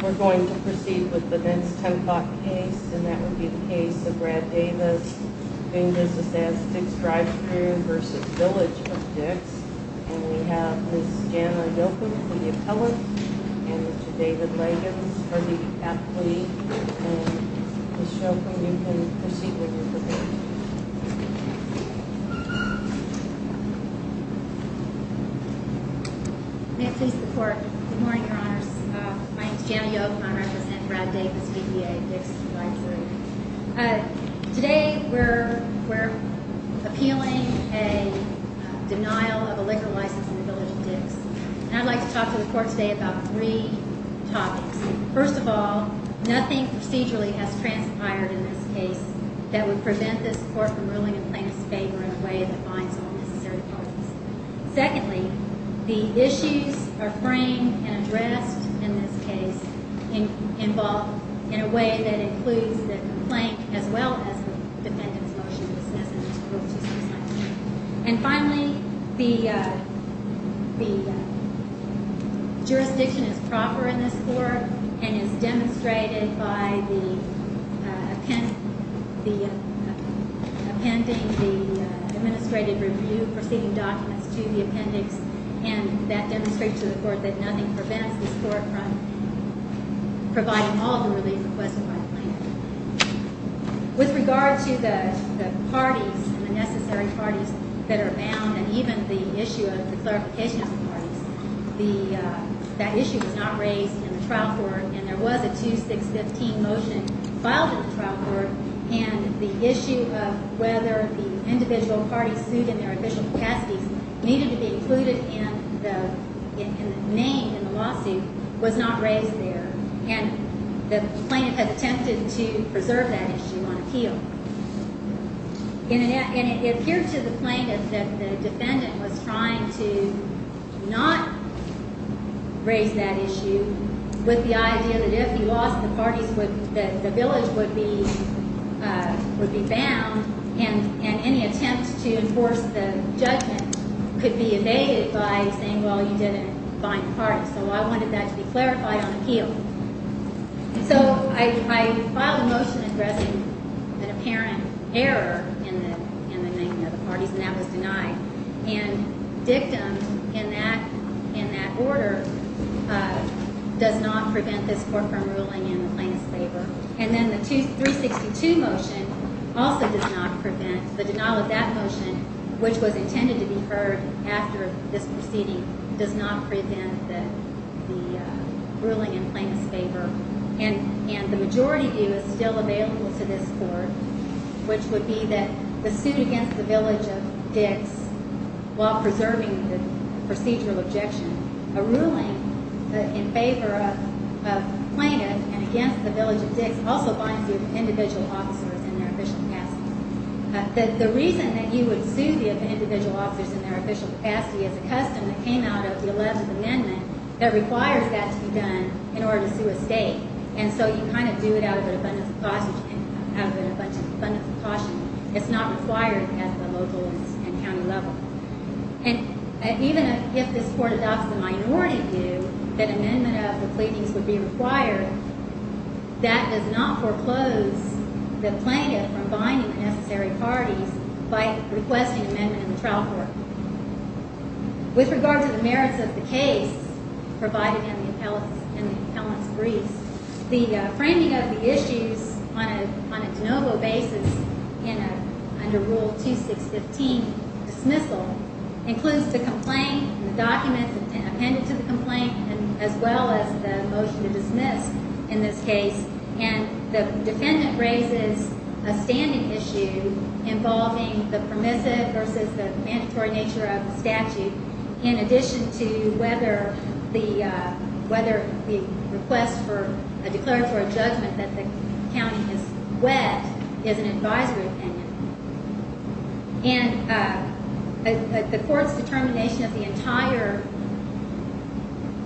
We're going to proceed with the next 10 o'clock case, and that would be the case of Brad Davis v. Dix Drive-Thru v. Village of Dix. And we have Ms. Scanlon Dilken, the appellant, and Mr. David Leggans, the athlete. And Ms. Shelton, you can proceed with your presentation. May it please the Court. Good morning, Your Honors. My name is Jana Yoke, and I represent Brad Davis v. Dix Drive-Thru. Today we're appealing a denial of a liquor license in the Village of Dix. And I'd like to talk to the Court today about three topics. First of all, nothing procedurally has transpired in this case that would prevent this Court from ruling a plaintiff's favor in a way that finds all necessary causes. Secondly, the issues are framed and addressed in this case in a way that includes the complaint as well as the defendant's motion. And finally, the jurisdiction is proper in this Court and is demonstrated by the appending the administrative review proceeding documents to the appendix. And that demonstrates to the Court that nothing prevents this Court from providing all the relief requested by the plaintiff. With regard to the parties and the necessary parties that are bound, and even the issue of the clarification of the parties, that issue was not raised in the trial court, and there was a 2-6-15 motion filed at the trial court, and the issue of whether the individual parties sued in their official capacities needed to be included in the name in the lawsuit was not raised there. And the plaintiff has attempted to preserve that issue on appeal. And it appeared to the plaintiff that the defendant was trying to not raise that issue with the idea that if he lost the parties, the village would be bound, and any attempt to enforce the judgment could be evaded by saying, well, you didn't find the parties. So I wanted that to be clarified on appeal. So I filed a motion addressing an apparent error in the name of the parties, and that was denied. And dictum in that order does not prevent this Court from ruling in the plaintiff's favor. And then the 2-3-62 motion also does not prevent the denial of that motion, which was intended to be heard after this proceeding, does not prevent the ruling in plaintiff's favor. And the majority view is still available to this Court, which would be that the suit against the village of Dix, while preserving the procedural objection, a ruling in favor of plaintiff and against the village of Dix also binds you to individual officers in their official capacity. The reason that you would sue the individual officers in their official capacity is a custom that came out of the 11th Amendment that requires that to be done in order to sue a state. And so you kind of do it out of an abundance of caution. It's not required at the local and county level. And even if this Court adopts the minority view that amendment of the pleadings would be required, that does not foreclose the plaintiff from binding the necessary parties by requesting amendment in the trial court. With regard to the merits of the case provided in the appellant's briefs, the framing of the issues on a de novo basis under Rule 2615 dismissal includes the complaint, the documents appended to the complaint, as well as the motion to dismiss in this case. And the defendant raises a standing issue involving the permissive versus the mandatory nature of the statute, in addition to whether the request for a declaratory judgment that the county is wet is an advisory opinion. And the Court's determination of the entire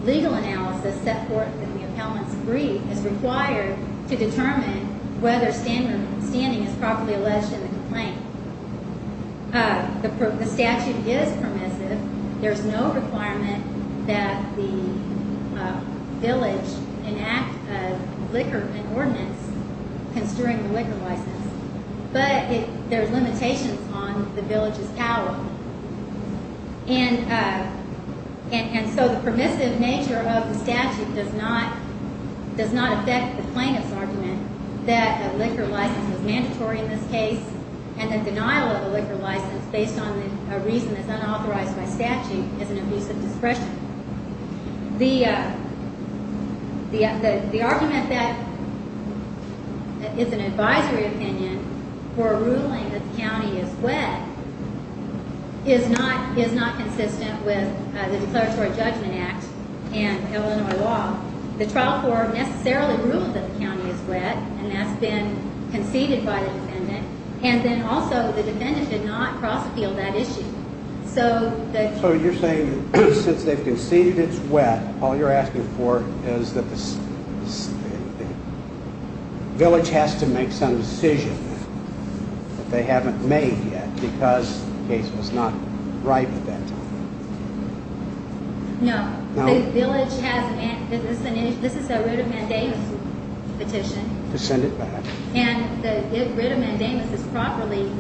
legal analysis set forth in the appellant's brief is required to determine whether standing is properly alleged in the complaint. The statute is permissive. There's no requirement that the village enact a liquor ordinance construing the liquor license. But there's limitations on the village's power. And so the permissive nature of the statute does not affect the plaintiff's argument that a liquor license is mandatory in this case and the denial of a liquor license based on a reason that's unauthorized by statute is an abuse of discretion. The argument that it's an advisory opinion for a ruling that the county is wet is not consistent with the Declaratory Judgment Act and Illinois law. The trial court necessarily ruled that the county is wet, and that's been conceded by the defendant. And then also the defendant did not cross-appeal that issue. So you're saying since they've conceded it's wet, all you're asking for is that the village has to make some decision that they haven't made yet because the case was not ripe at that time. No. The village has an issue. This is a writ of mandamus petition. To send it back. And the writ of mandamus is properly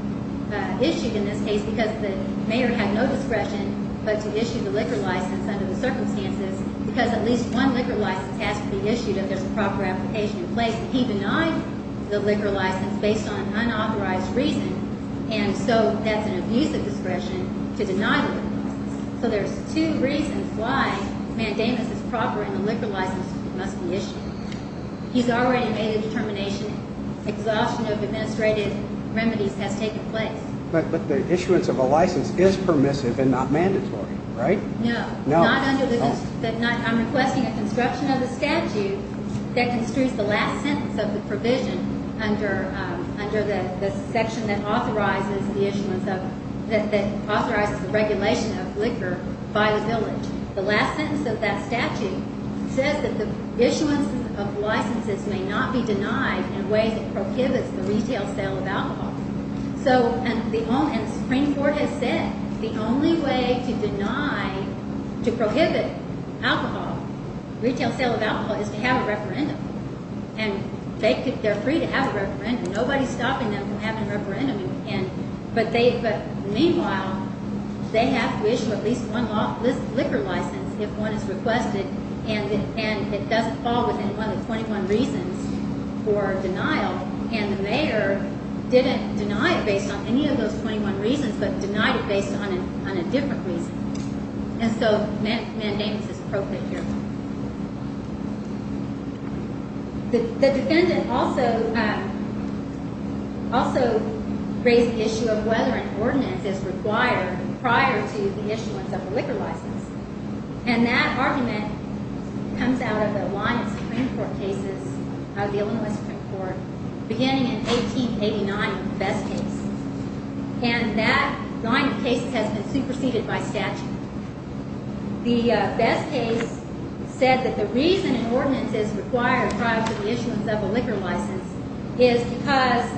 issued in this case because the mayor had no discretion but to issue the liquor license under the circumstances because at least one liquor license has to be issued if there's a proper application in place. He denied the liquor license based on unauthorized reason, and so that's an abuse of discretion to deny the liquor license. So there's two reasons why mandamus is proper and the liquor license must be issued. He's already made a determination. Exhaustion of administrative remedies has taken place. But the issuance of a license is permissive and not mandatory, right? No. I'm requesting a construction of the statute that construes the last sentence of the provision under the section that authorizes the regulation of liquor by the village. The last sentence of that statute says that the issuance of licenses may not be denied in ways that prohibits the retail sale of alcohol. And the Supreme Court has said the only way to prohibit retail sale of alcohol is to have a referendum. And they're free to have a referendum. Nobody's stopping them from having a referendum. But meanwhile, they have to issue at least one liquor license if one is requested, and it doesn't fall within one of the 21 reasons for denial. And the mayor didn't deny it based on any of those 21 reasons but denied it based on a different reason. And so mandamus is appropriate here. The defendant also raised the issue of whether an ordinance is required prior to the issuance of a liquor license. And that argument comes out of a line of Supreme Court cases, of the Illinois Supreme Court, beginning in 1889 in the Best case. And that line of cases has been superseded by statute. The Best case said that the reason an ordinance is required prior to the issuance of a liquor license is because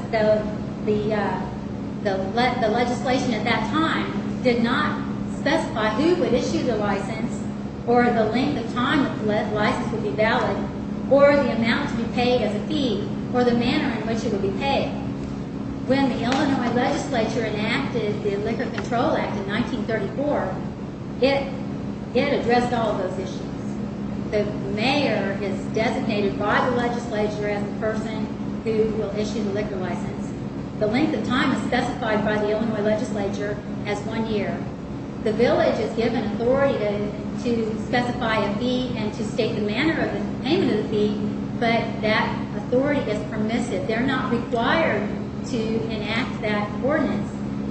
the legislation at that time did not specify who would issue the license or the length of time the license would be valid or the amount to be paid as a fee or the manner in which it would be paid. When the Illinois legislature enacted the Liquor Control Act in 1934, it addressed all of those issues. The mayor is designated by the legislature as the person who will issue the liquor license. The length of time is specified by the Illinois legislature as one year. The village is given authority to specify a fee and to state the manner of payment of the fee, but that authority is permissive. They're not required to enact that ordinance.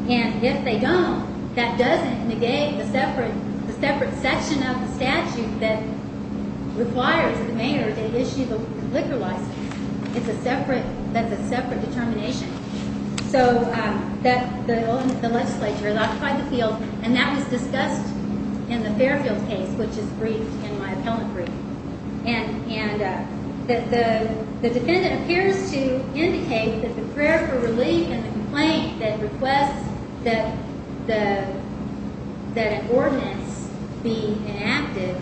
And if they don't, that doesn't negate the separate section of the statute that requires the mayor to issue the liquor license. It's a separate, that's a separate determination. So the legislature occupied the field, and that was discussed in the Fairfield case, which is briefed in my appellant brief. And the defendant appears to indicate that the prayer for relief and the complaint that requests that an ordinance be enacted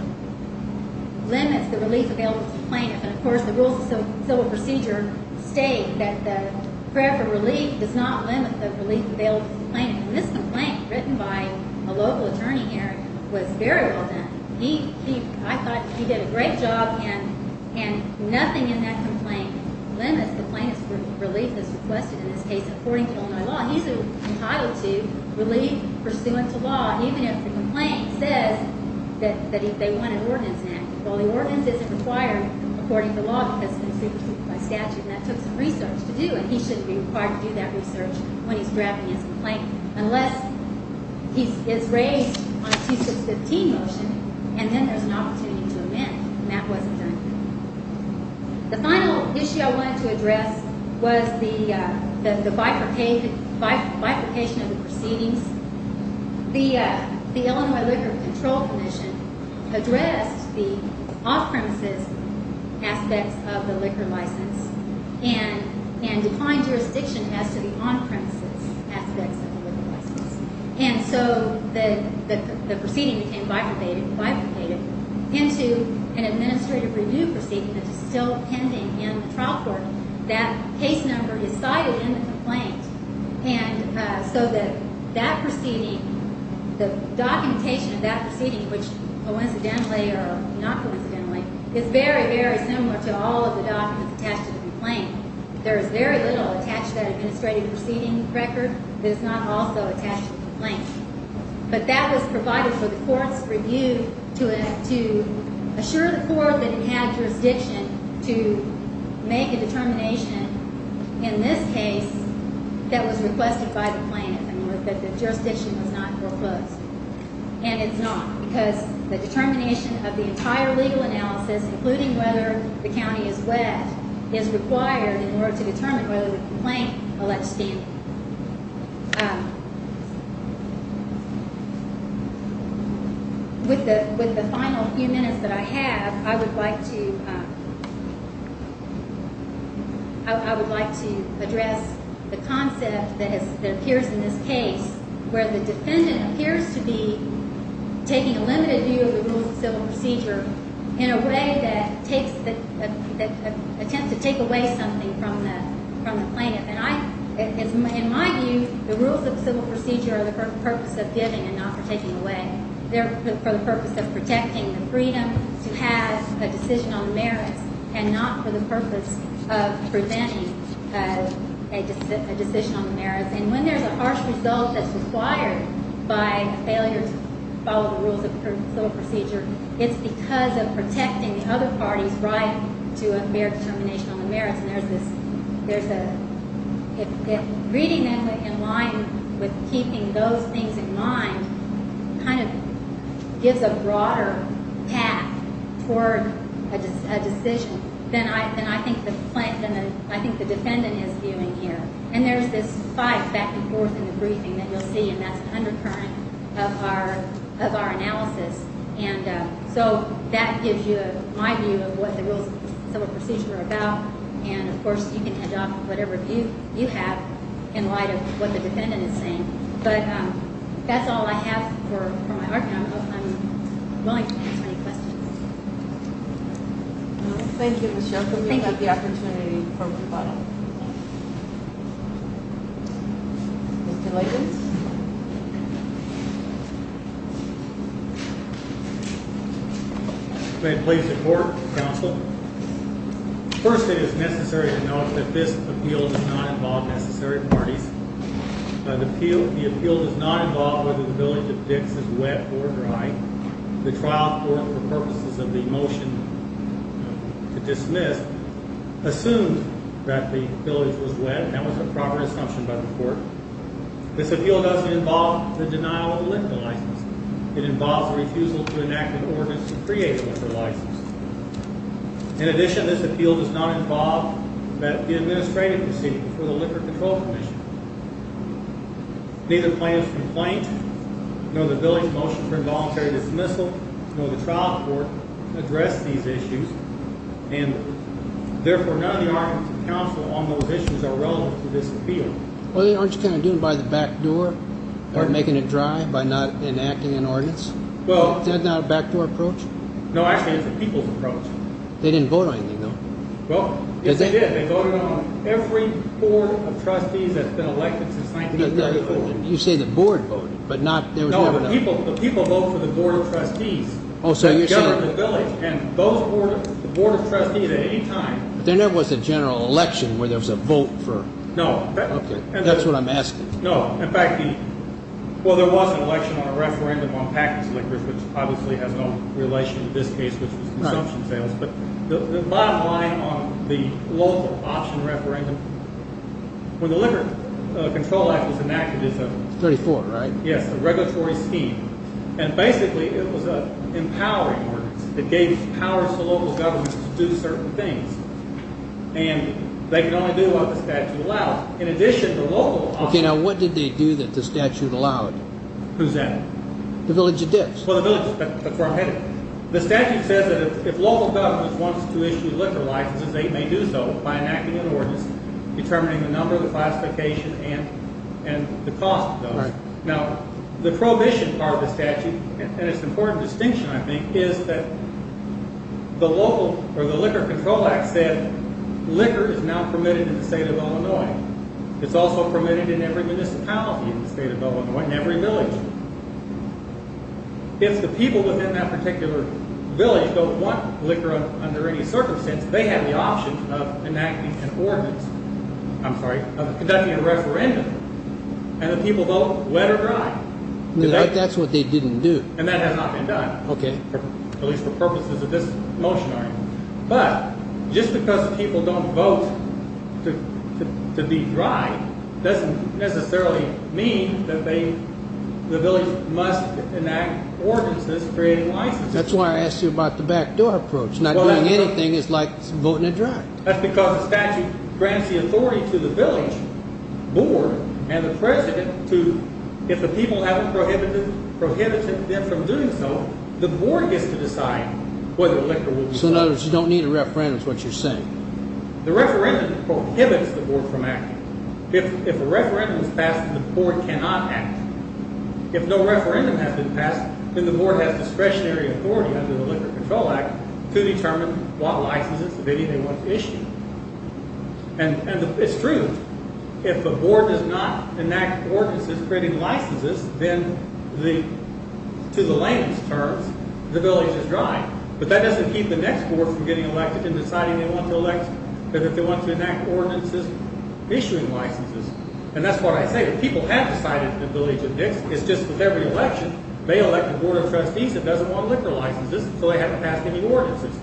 limits the relief available to plaintiffs. And, of course, the rules of civil procedure state that the prayer for relief does not limit the relief available to plaintiffs. And this complaint, written by a local attorney here, was very well done. I thought he did a great job, and nothing in that complaint limits the plaintiff's relief that's requested in this case according to Illinois law. He's entitled to relief pursuant to law, even if the complaint says that they want an ordinance enacted. Well, the ordinance isn't required according to law because it's been briefed by statute, and that took some research to do, and he shouldn't be required to do that research when he's drafting his complaint. Unless he is raised on a 2-6-15 motion, and then there's an opportunity to amend, and that wasn't done here. The final issue I wanted to address was the bifurcation of the proceedings. The Illinois Liquor Control Commission addressed the off-premises aspects of the liquor license and defined jurisdiction as to the on-premises aspects of the liquor license. And so the proceeding became bifurcated into an administrative review proceeding that is still pending in the trial court. That case number is cited in the complaint, and so that proceeding, the documentation of that proceeding, which coincidentally or not coincidentally, is very, very similar to all of the documents attached to the complaint. There is very little attached to that administrative proceeding record that is not also attached to the complaint. But that was provided for the court's review to assure the court that it had jurisdiction to make a determination in this case that was requested by the plaintiff and that the jurisdiction was not proposed. And it's not, because the determination of the entire legal analysis, including whether the county is wet, is required in order to determine whether the complaint alleged scam. With the final few minutes that I have, I would like to address the concept that appears in this case where the defendant appears to be taking a limited view of the rules of civil procedure in a way that tends to take away something from the plaintiff. And in my view, the rules of civil procedure are the purpose of giving and not for taking away. They're for the purpose of protecting the freedom to have a decision on the merits and not for the purpose of preventing a decision on the merits. And when there's a harsh result that's required by failure to follow the rules of civil procedure, it's because of protecting the other party's right to a fair determination on the merits. And reading that in line with keeping those things in mind kind of gives a broader path toward a decision than I think the defendant is viewing here. And there's this fight back and forth in the briefing that you'll see, and that's an undercurrent of our analysis. And so that gives you my view of what the rules of civil procedure are about. And, of course, you can adopt whatever view you have in light of what the defendant is saying. But that's all I have for my argument. I'm willing to answer any questions. Thank you, Michelle, for giving us the opportunity for a rebuttal. Mr. Latham? May it please the Court, Counsel? First, it is necessary to note that this appeal does not involve necessary parties. The appeal does not involve whether the village of Dix is wet or dry. The trial court, for purposes of the motion to dismiss, assumed that the village was wet, and that was a proper assumption by the court. This appeal doesn't involve the denial of the liquor license. It involves the refusal to enact an ordinance to create a liquor license. In addition, this appeal does not involve the administrative proceeding before the Liquor Control Commission. Neither plaintiff's complaint, nor the village motion for involuntary dismissal, nor the trial court addressed these issues. And, therefore, none of the arguments of counsel on those issues are relevant to this appeal. Well, aren't you kind of doing it by the back door, or making it dry by not enacting an ordinance? Is that not a backdoor approach? No, actually, it's a people's approach. They didn't vote on anything, though. Well, they did. They voted on every board of trustees that's been elected since 1984. You say the board voted, but there was never an election. No, the people vote for the board of trustees that govern the village, and the board of trustees at any time. But there never was a general election where there was a vote for it. No. Okay, that's what I'm asking. No. In fact, well, there was an election on a referendum on packaged liquors, which obviously has no relation to this case, which was consumption sales. But the bottom line on the local option referendum, when the Liquor Control Act was enacted, it was a – It's 34, right? Yes, a regulatory scheme. And, basically, it was an empowering ordinance. It gave powers to local governments to do certain things. And they could only do what the statute allowed. In addition, the local – Okay, now what did they do that the statute allowed? Who's that? The village of Dix. Well, the village – that's where I'm headed. The statute says that if local governments want to issue liquor licenses, they may do so by enacting an ordinance determining the number, the classification, and the cost of those. Now, the prohibition part of the statute, and its important distinction, I think, is that the local – or the Liquor Control Act said liquor is not permitted in the state of Illinois. It's also permitted in every municipality in the state of Illinois, in every village. If the people within that particular village don't want liquor under any circumstance, they have the option of enacting an ordinance – I'm sorry, conducting a referendum. And the people vote wet or dry. That's what they didn't do. And that has not been done. Okay. At least for purposes of this motion. But just because people don't vote to be dry doesn't necessarily mean that the village must enact ordinances creating licenses. That's why I asked you about the backdoor approach. Not doing anything is like voting it dry. That's because the statute grants the authority to the village board and the president to – if the people haven't prohibited them from doing so, the board gets to decide whether liquor will be allowed. So in other words, you don't need a referendum is what you're saying. The referendum prohibits the board from acting. If a referendum is passed, the board cannot act. If no referendum has been passed, then the board has discretionary authority under the Liquor Control Act to determine what licenses, if any, they want to issue. And it's true. If the board does not enact ordinances creating licenses, then to the layman's terms, the village is dry. But that doesn't keep the next board from getting elected and deciding they want to elect – if they want to enact ordinances issuing licenses. And that's what I say. If people have decided that the village is dry, it's just that every election, they elect a board of trustees that doesn't want liquor licenses, so they haven't passed any ordinances.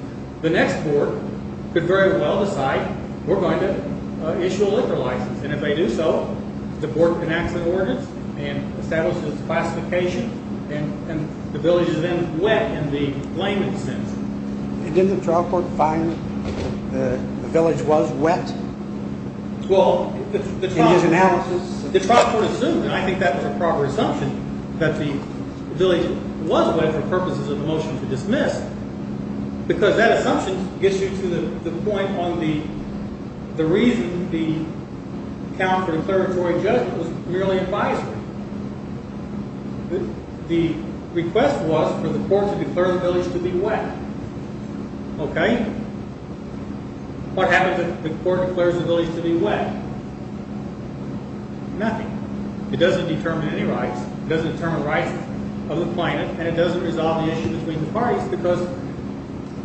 The next board could very well decide we're going to issue a liquor license. And if they do so, the board can enact the ordinance and establish its classification, and the village is then wet in the layman's sense. Didn't the trial court find the village was wet in his analysis? Well, the trial court assumed, and I think that was a proper assumption, that the village was wet for purposes of the motion to dismiss because that assumption gets you to the point on the reason the account for declaratory judgment was merely advisory. The request was for the court to declare the village to be wet. Okay? What happens if the court declares the village to be wet? Nothing. It doesn't determine any rights. It doesn't determine rights of the plaintiff, and it doesn't resolve the issue between the parties because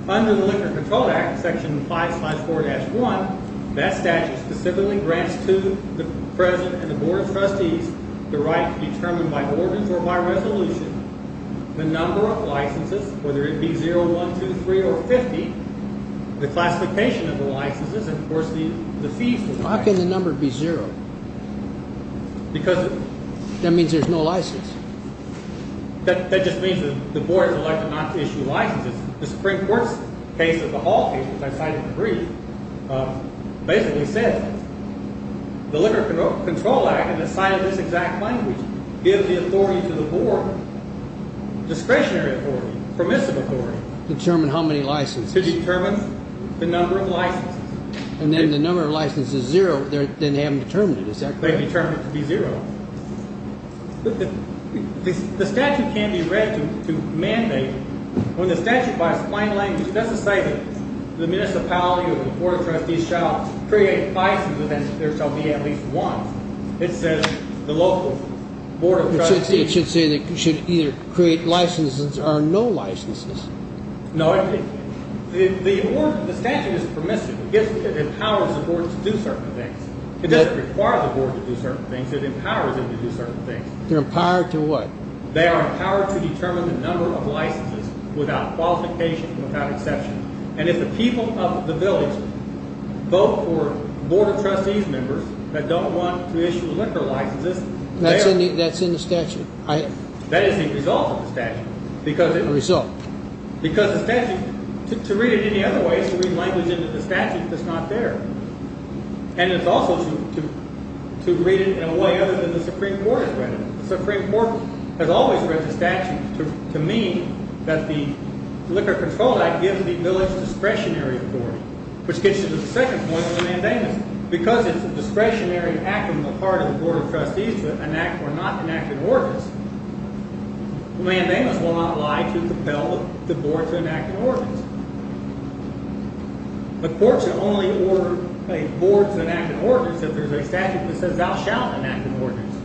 under the Liquor Control Act, Section 5-4-1, that statute specifically grants to the president and the board of trustees the right to determine by ordinance or by resolution the number of licenses, whether it be 0, 1, 2, 3, or 50, the classification of the licenses, and, of course, the fees. How can the number be 0? That means there's no license. That just means that the board is elected not to issue licenses. The Supreme Court's case of the Hall case, which I cited in the brief, basically says the Liquor Control Act, in the sign of this exact language, gives the authority to the board, discretionary authority, permissive authority. Determine how many licenses. To determine the number of licenses. And then the number of licenses is 0. Then they haven't determined it. Is that correct? They've determined it to be 0. The statute can be read to mandate when the statute, by its plain language, doesn't say that the municipality or the board of trustees shall create license and that there shall be at least one. It says the local board of trustees should either create licenses or no licenses. No, the statute is permissive. It empowers the board to do certain things. It doesn't require the board to do certain things. It empowers them to do certain things. They're empowered to what? They are empowered to determine the number of licenses without qualification and without exception. And if the people of the village vote for board of trustees members that don't want to issue liquor licenses, they are. That's in the statute. That is the result of the statute. The result. Because the statute, to read it any other way, is to read language into the statute that's not there. And it's also to read it in a way other than the Supreme Court has read it. The Supreme Court has always read the statute to mean that the Liquor Control Act gives the village discretionary authority, which gets you to the second point of the mandamus. Because it's a discretionary act on the part of the board of trustees to enact or not enact an ordinance, the mandamus will not lie to compel the board to enact an ordinance. The court should only order a board to enact an ordinance if there's a statute that says thou shalt enact an ordinance.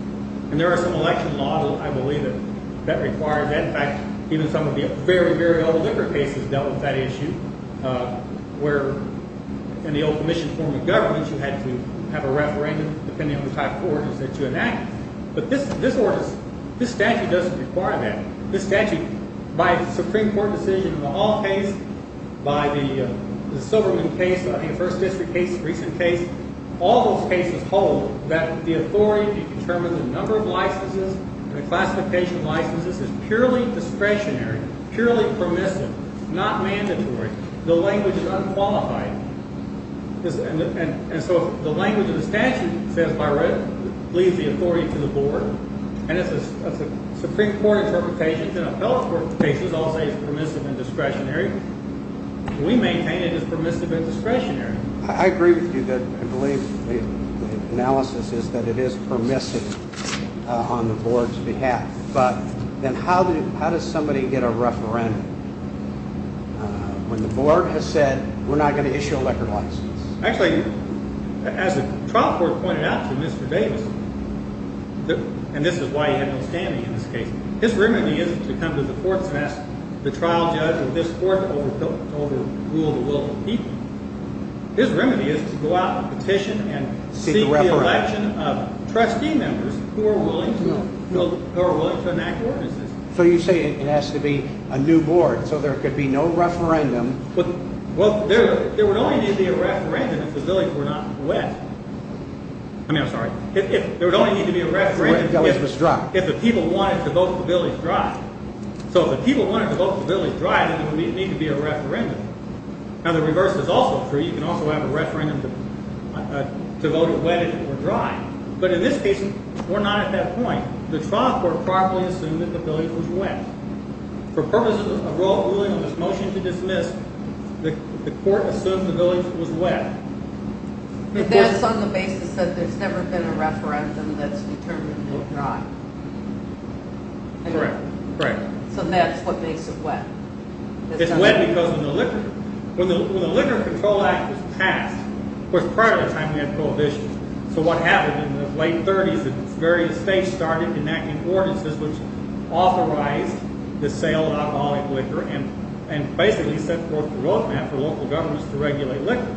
And there are some election laws, I believe, that require that. In fact, even some of the very, very old liquor cases dealt with that issue where in the old commission form of government, you had to have a referendum depending on the type of ordinance that you enacted. But this statute doesn't require that. This statute, by the Supreme Court decision in the Hall case, by the Silverman case, I think the First District case, the recent case, all those cases hold that the authority to determine the number of licenses and the classification of licenses is purely discretionary, purely permissive, not mandatory. The language is unqualified. And so the language of the statute says by right it leaves the authority to the board. And as a Supreme Court interpretation in a health court case, I'll say it's permissive and discretionary. We maintain it as permissive and discretionary. I agree with you. I believe the analysis is that it is permissive on the board's behalf. But then how does somebody get a referendum when the board has said we're not going to issue a liquor license? Actually, as the trial court pointed out to Mr. Davis, and this is why he had no standing in this case, his remedy isn't to come to the courts and ask the trial judge or this court to overrule the will of the people. His remedy is to go out and petition and seek the election of trustee members who are willing to enact ordinances. So you say it has to be a new board so there could be no referendum. Well, there would only need to be a referendum if the billings were not wet. I mean, I'm sorry. There would only need to be a referendum if the people wanted to vote the billings dry. So if the people wanted to vote the billings dry, then there would need to be a referendum. Now, the reverse is also true. You can also have a referendum to vote it wet if it were dry. But in this case, we're not at that point. The trial court properly assumed that the billings was wet. For purposes of rule of ruling on this motion to dismiss, the court assumed the billings was wet. That's on the basis that there's never been a referendum that's determined to be dry. Correct. So that's what makes it wet. It's wet because when the Liquor Control Act was passed, of course, prior to the time we had prohibition, so what happened in the late 30s is various states started enacting ordinances which authorized the sale of alcoholic liquor and basically set forth the roadmap for local governments to regulate liquor.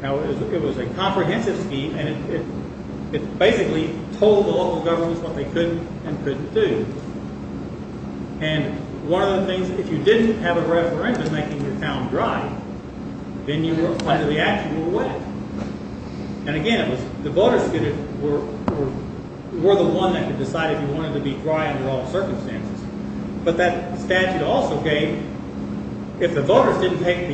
Now, it was a comprehensive scheme, and it basically told the local governments what they could and couldn't do. And one of the things, if you didn't have a referendum making your town dry, then you were under the actual wet. And again, the voters were the one that could decide if you wanted to be dry under all circumstances. But that statute also gave, if the voters didn't take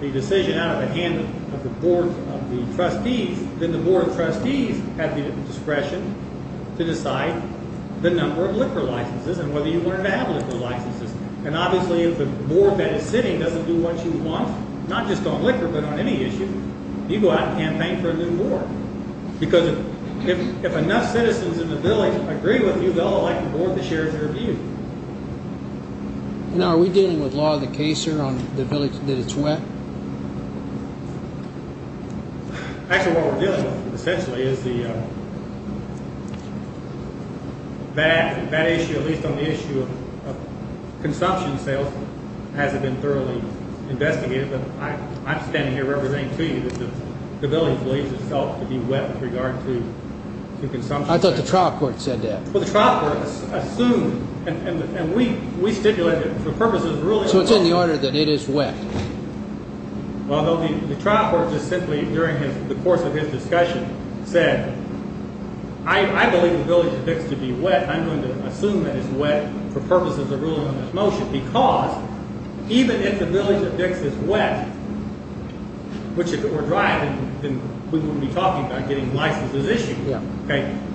the decision out of the hand of the Board of Trustees, then the Board of Trustees had the discretion to decide the number of liquor licenses and whether you wanted to have liquor licenses. And obviously, if the board that is sitting doesn't do what you want, not just on liquor but on any issue, you go out and campaign for a new board. Because if enough citizens in the village agree with you, they'll elect a board that shares their views. Now, are we dealing with law of the case here on the village that it's wet? Actually, what we're dealing with essentially is that issue, at least on the issue of consumption sales, hasn't been thoroughly investigated. But I'm standing here representing to you that the village believes itself to be wet with regard to consumption sales. I thought the trial court said that. Well, the trial court assumed, and we stipulated that for purposes of ruling on this motion. So it's in the order that it is wet. Well, the trial court just simply, during the course of his discussion, said, I believe the village of Dix should be wet, and I'm going to assume that it's wet for purposes of ruling on this motion. Because even if the village of Dix is wet, which if it were dry, then we wouldn't be talking about getting licenses issued.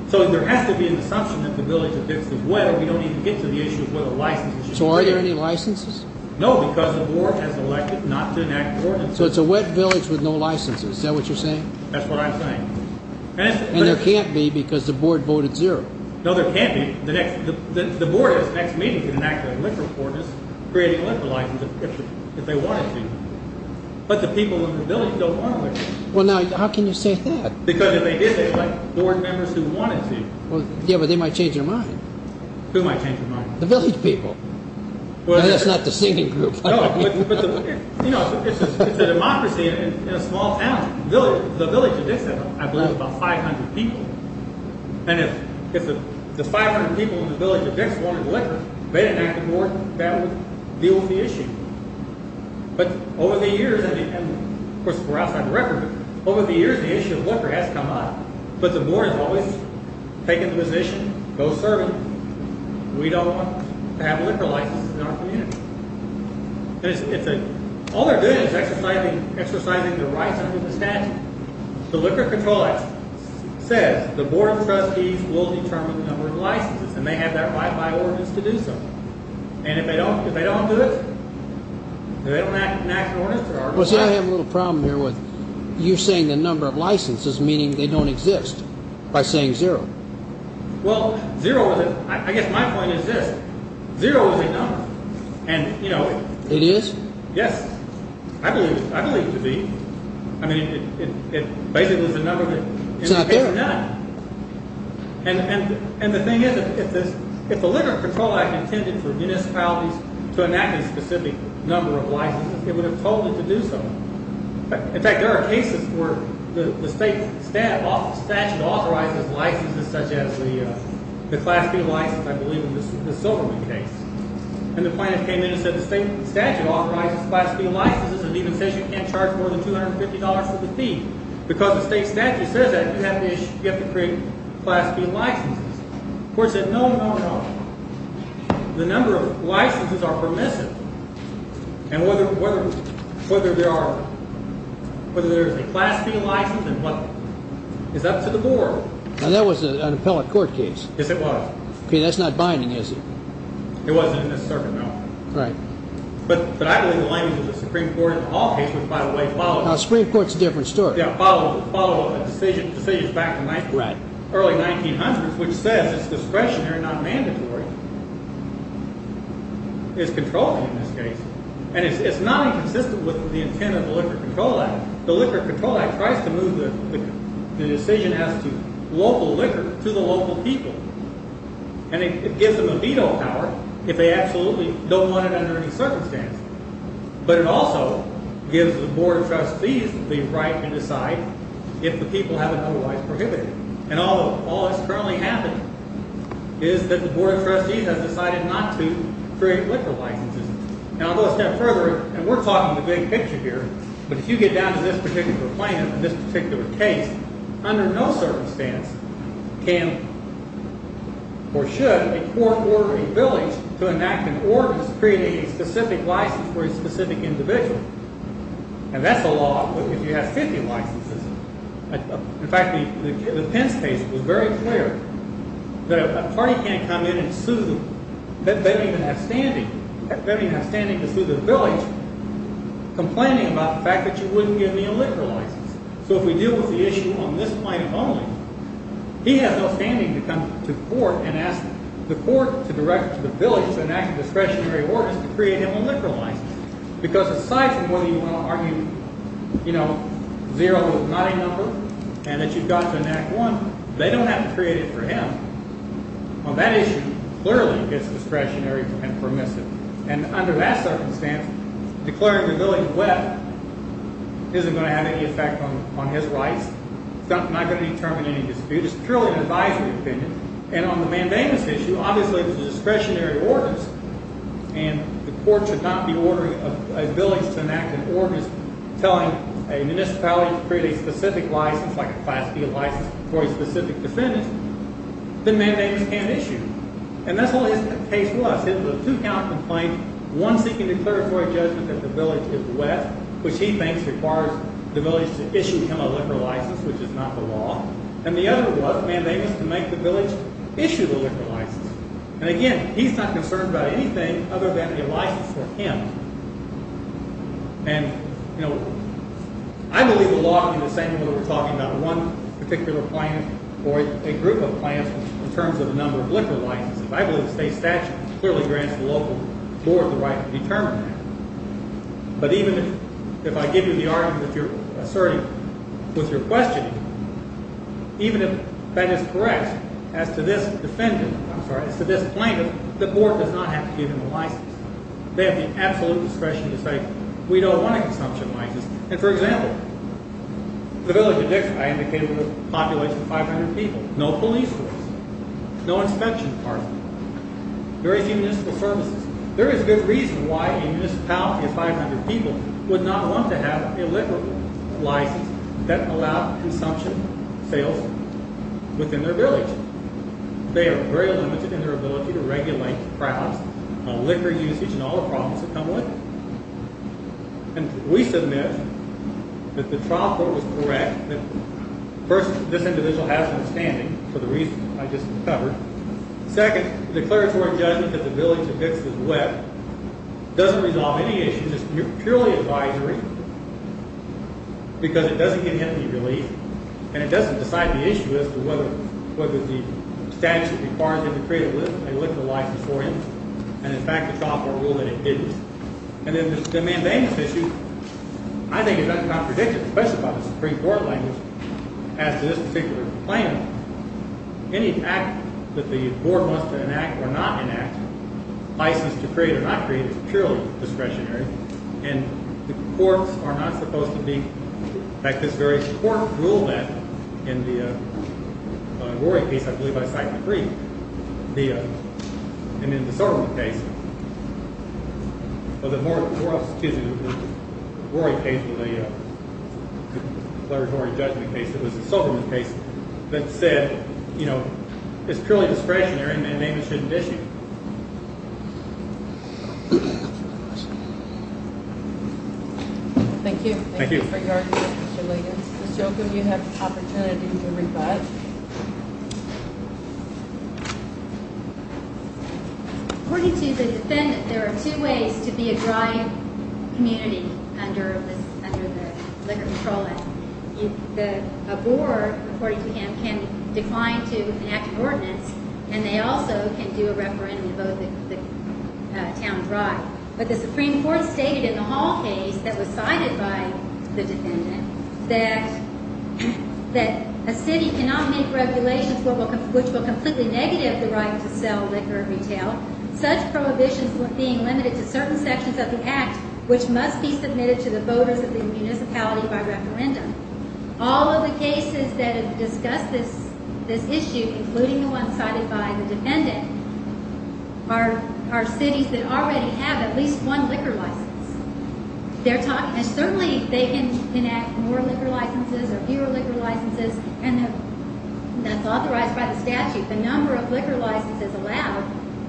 So there has to be an assumption that the village of Dix is wet, or we don't need to get to the issue of whether licenses are issued. So are there any licenses? No, because the board has elected not to enact ordinances. So it's a wet village with no licenses. Is that what you're saying? That's what I'm saying. And there can't be because the board voted zero. No, there can't be. The board has the next meeting to enact a liquor ordinance creating a liquor license if they wanted to. But the people in the village don't want a license. Well, now, how can you say that? Because if they did, they'd elect board members who wanted to. Yeah, but they might change their mind. Who might change their mind? The village people. Well, that's not the singing group. No, but it's a democracy in a small town. The village of Dix has, I believe, about 500 people. And if the 500 people in the village of Dix wanted liquor, they'd enact a board that would deal with the issue. But over the years, and, of course, we're outside the record, over the years the issue of liquor has come up. But the board has always taken the position, go serve it. We don't want to have a liquor license in our community. All they're doing is exercising their rights under the statute. The Liquor Control Act says the board of trustees will determine the number of licenses, and they have that right by ordinance to do so. And if they don't do it, they don't enact an ordinance, there are no licenses. Well, see, I have a little problem here with you saying the number of licenses, meaning they don't exist, by saying zero. Well, zero, I guess my point is this. Zero is a number. It is? Yes. I believe it to be. I mean, it basically is the number of it. It's not there? It's none. And the thing is, if the Liquor Control Act intended for municipalities to enact a specific number of licenses, it would have told it to do so. In fact, there are cases where the state statute authorizes licenses such as the Class B license, I believe in the Silverman case. And the plaintiff came in and said the state statute authorizes Class B licenses, and it even says you can't charge more than $250 for the fee. Because the state statute says that, you have to create Class B licenses. The court said no, no, no. The number of licenses are permissive. And whether there is a Class B license is up to the board. Now, that was an appellate court case. Yes, it was. Okay, that's not binding, is it? It wasn't in this circuit, no. Right. But I believe the language of the Supreme Court in all cases, by the way, follows. Now, the Supreme Court is a different story. But it follows decisions back to the early 1900s, which says it's discretionary, not mandatory. It's controlling in this case. And it's not inconsistent with the intent of the Liquor Control Act. The Liquor Control Act tries to move the decision as to local liquor to the local people. And it gives them a veto power if they absolutely don't want it under any circumstance. But it also gives the Board of Trustees the right to decide if the people have it otherwise prohibited. And all that's currently happening is that the Board of Trustees has decided not to create liquor licenses. Now, a little step further, and we're talking the big picture here, but if you get down to this particular plaintiff and this particular case, under no circumstance can or should a court order a village to enact an ordinance creating a specific license for a specific individual. And that's the law if you have 50 licenses. In fact, the Pence case was very clear. The party can't come in and sue them. They don't even have standing. They don't even have standing to sue the village, complaining about the fact that you wouldn't give me a liquor license. So if we deal with the issue on this plaintiff only, he has no standing to come to court and ask the court to direct the village to enact a discretionary ordinance to create him a liquor license. Because aside from whether you want to argue zero is not a number and that you've got to enact one, they don't have to create it for him. On that issue, clearly it's discretionary and permissive. And under that circumstance, declaring the village wet isn't going to have any effect on his rights. It's not going to determine any dispute. It's purely an advisory opinion. And on the mandamus issue, obviously it was a discretionary ordinance, and the court should not be ordering a village to enact an ordinance telling a municipality to create a specific license, like a Class D license, for a specific defendant. The mandamus can't issue. And that's what his case was. It was a two-count complaint, one seeking declaratory judgment that the village is wet, which he thinks requires the village to issue him a liquor license, which is not the law, and the other was mandamus to make the village issue the liquor license. And again, he's not concerned about anything other than a license for him. And, you know, I believe the law can be the same whether we're talking about one particular plaintiff or a group of plaintiffs in terms of the number of liquor licenses. I believe the state statute clearly grants the local board the right to determine that. But even if I give you the argument that you're asserting with your questioning, even if that is correct as to this defendant, I'm sorry, as to this plaintiff, the board does not have to give him a license. They have the absolute discretion to say, we don't want a consumption license. And, for example, the village of Dixon, I indicated, was a population of 500 people. No police force, no inspection department, very few municipal services. There is good reason why a municipality of 500 people would not want to have a liquor license that allowed consumption sales within their village. They are very limited in their ability to regulate crowds, liquor usage, and all the problems that come with it. And we submit that the trial court was correct. First, this individual has an outstanding for the reasons I just covered. Second, the declaratory judgment that the village of Dixon is wet doesn't resolve any issues. It's purely advisory because it doesn't get him any relief, and it doesn't decide the issue as to whether the statute requires him to create a liquor license for him. And, in fact, the trial court ruled that it didn't. And then the mandamus issue, I think, is not predictive, especially by the Supreme Court language. As to this particular complaint, any act that the board wants to enact or not enact, license to create or not create, is purely discretionary, and the courts are not supposed to be, in fact, this very court ruled that in the Rory case, I believe I signed the brief, and in the Silverman case, well, the Rory case was a declaratory judgment case. It was the Silverman case that said, you know, it's purely discretionary, and maybe it shouldn't issue. Thank you. Thank you. Ms. Jochum, you have the opportunity to rebut. According to the defendant, there are two ways to be a dry community under the liquor patrol act. A board, according to him, can decline to enact an ordinance, and they also can do a referendum to vote the town dry. But the Supreme Court stated in the Hall case that was cited by the defendant that a city cannot make regulations which will completely negative the right to sell liquor and retail. Such prohibitions were being limited to certain sections of the act, which must be submitted to the voters of the municipality by referendum. All of the cases that have discussed this issue, including the one cited by the defendant, are cities that already have at least one liquor license. Certainly, they can enact more liquor licenses or fewer liquor licenses, and that's authorized by the statute. The number of liquor licenses allowed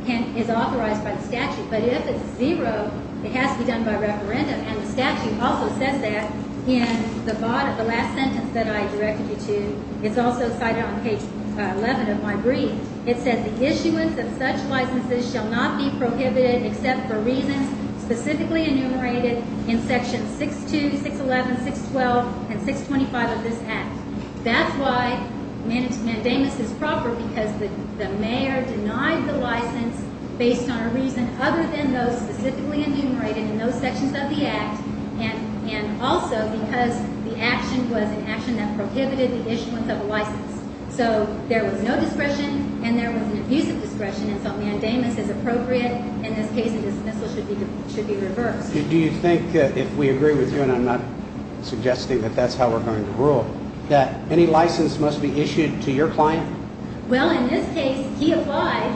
is authorized by the statute. But if it's zero, it has to be done by referendum, and the statute also says that in the last sentence that I directed you to. It's also cited on page 11 of my brief. It says the issuance of such licenses shall not be prohibited except for reasons specifically enumerated in sections 6-2, 6-11, 6-12, and 6-25 of this act. That's why mandamus is proper because the mayor denied the license based on a reason other than those specifically enumerated in those sections of the act and also because the action was an action that prohibited the issuance of a license. So there was no discretion and there was an abusive discretion, and so mandamus is appropriate. In this case, the dismissal should be reversed. Do you think, if we agree with you, and I'm not suggesting that that's how we're going to rule, that any license must be issued to your client? Well, in this case, he applied,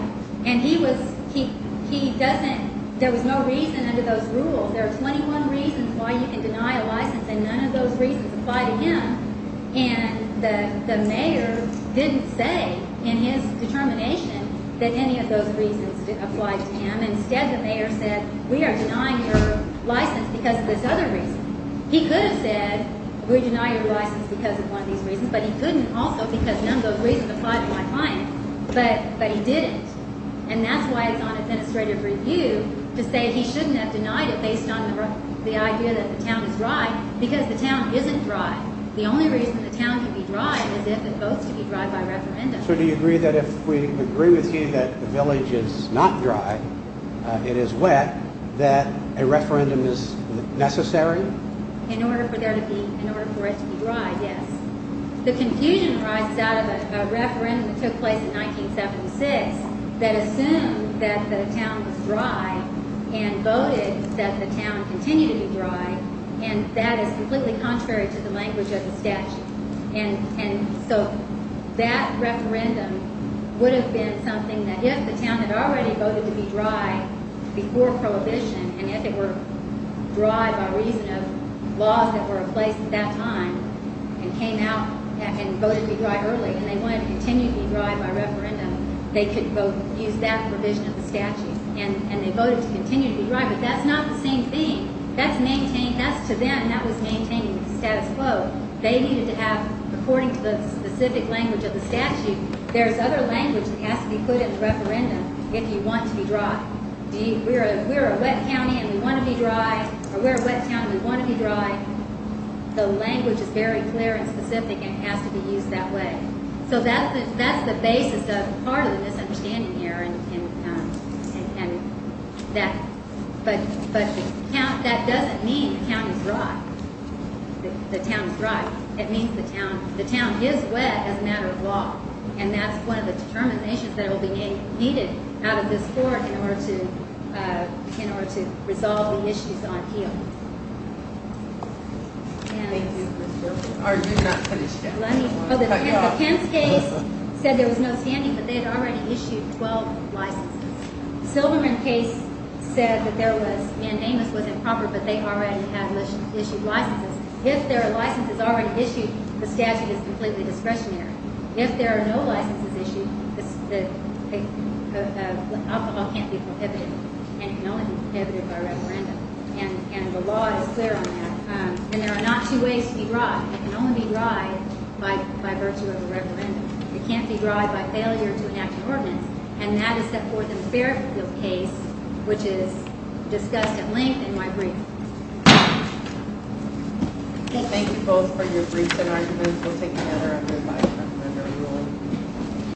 and he doesn't. There was no reason under those rules. There are 21 reasons why you can deny a license, and none of those reasons apply to him. And the mayor didn't say in his determination that any of those reasons apply to him. Instead, the mayor said, we are denying your license because of this other reason. He could have said, we deny your license because of one of these reasons, but he couldn't also because none of those reasons apply to my client, but he didn't. And that's why it's on administrative review to say he shouldn't have denied it based on the idea that the town is dry because the town isn't dry. The only reason the town can be dry is if it votes to be dry by referendum. So do you agree that if we agree with you that the village is not dry, it is wet, that a referendum is necessary? In order for it to be dry, yes. The confusion arises out of a referendum that took place in 1976 that assumed that the town was dry and voted that the town continue to be dry, and that is completely contrary to the language of the statute. And so that referendum would have been something that if the town had already voted to be dry before Prohibition and if it were dry by reason of laws that were in place at that time and came out and voted to be dry early and they wanted to continue to be dry by referendum, they could use that provision of the statute. And they voted to continue to be dry, but that's not the same thing. That's to them, that was maintaining the status quo. They needed to have, according to the specific language of the statute, there's other language that has to be put in the referendum if you want to be dry. If we're a wet town and we want to be dry, the language is very clear and specific and has to be used that way. So that's the basis of part of the misunderstanding here, but that doesn't mean the town is dry. It means the town is wet as a matter of law, and that's one of the determinations that will be needed out of this court in order to resolve the issues on heel. Are you not finished yet? The Pence case said there was no standing, but they had already issued 12 licenses. The Silverman case said that there was, and Amos was improper, but they already had issued licenses. If there are licenses already issued, the statute is completely discretionary. If there are no licenses issued, alcohol can't be prohibited, and it can only be prohibited by referendum, and the law is clear on that. And there are not two ways to be dry. It can only be dry by virtue of a referendum. It can't be dry by failure to enact an ordinance, and that is set forth in the Fairfield case, which is discussed at length in my brief. Thank you both for your briefs and arguments. We'll take another after the vice-president's ruling.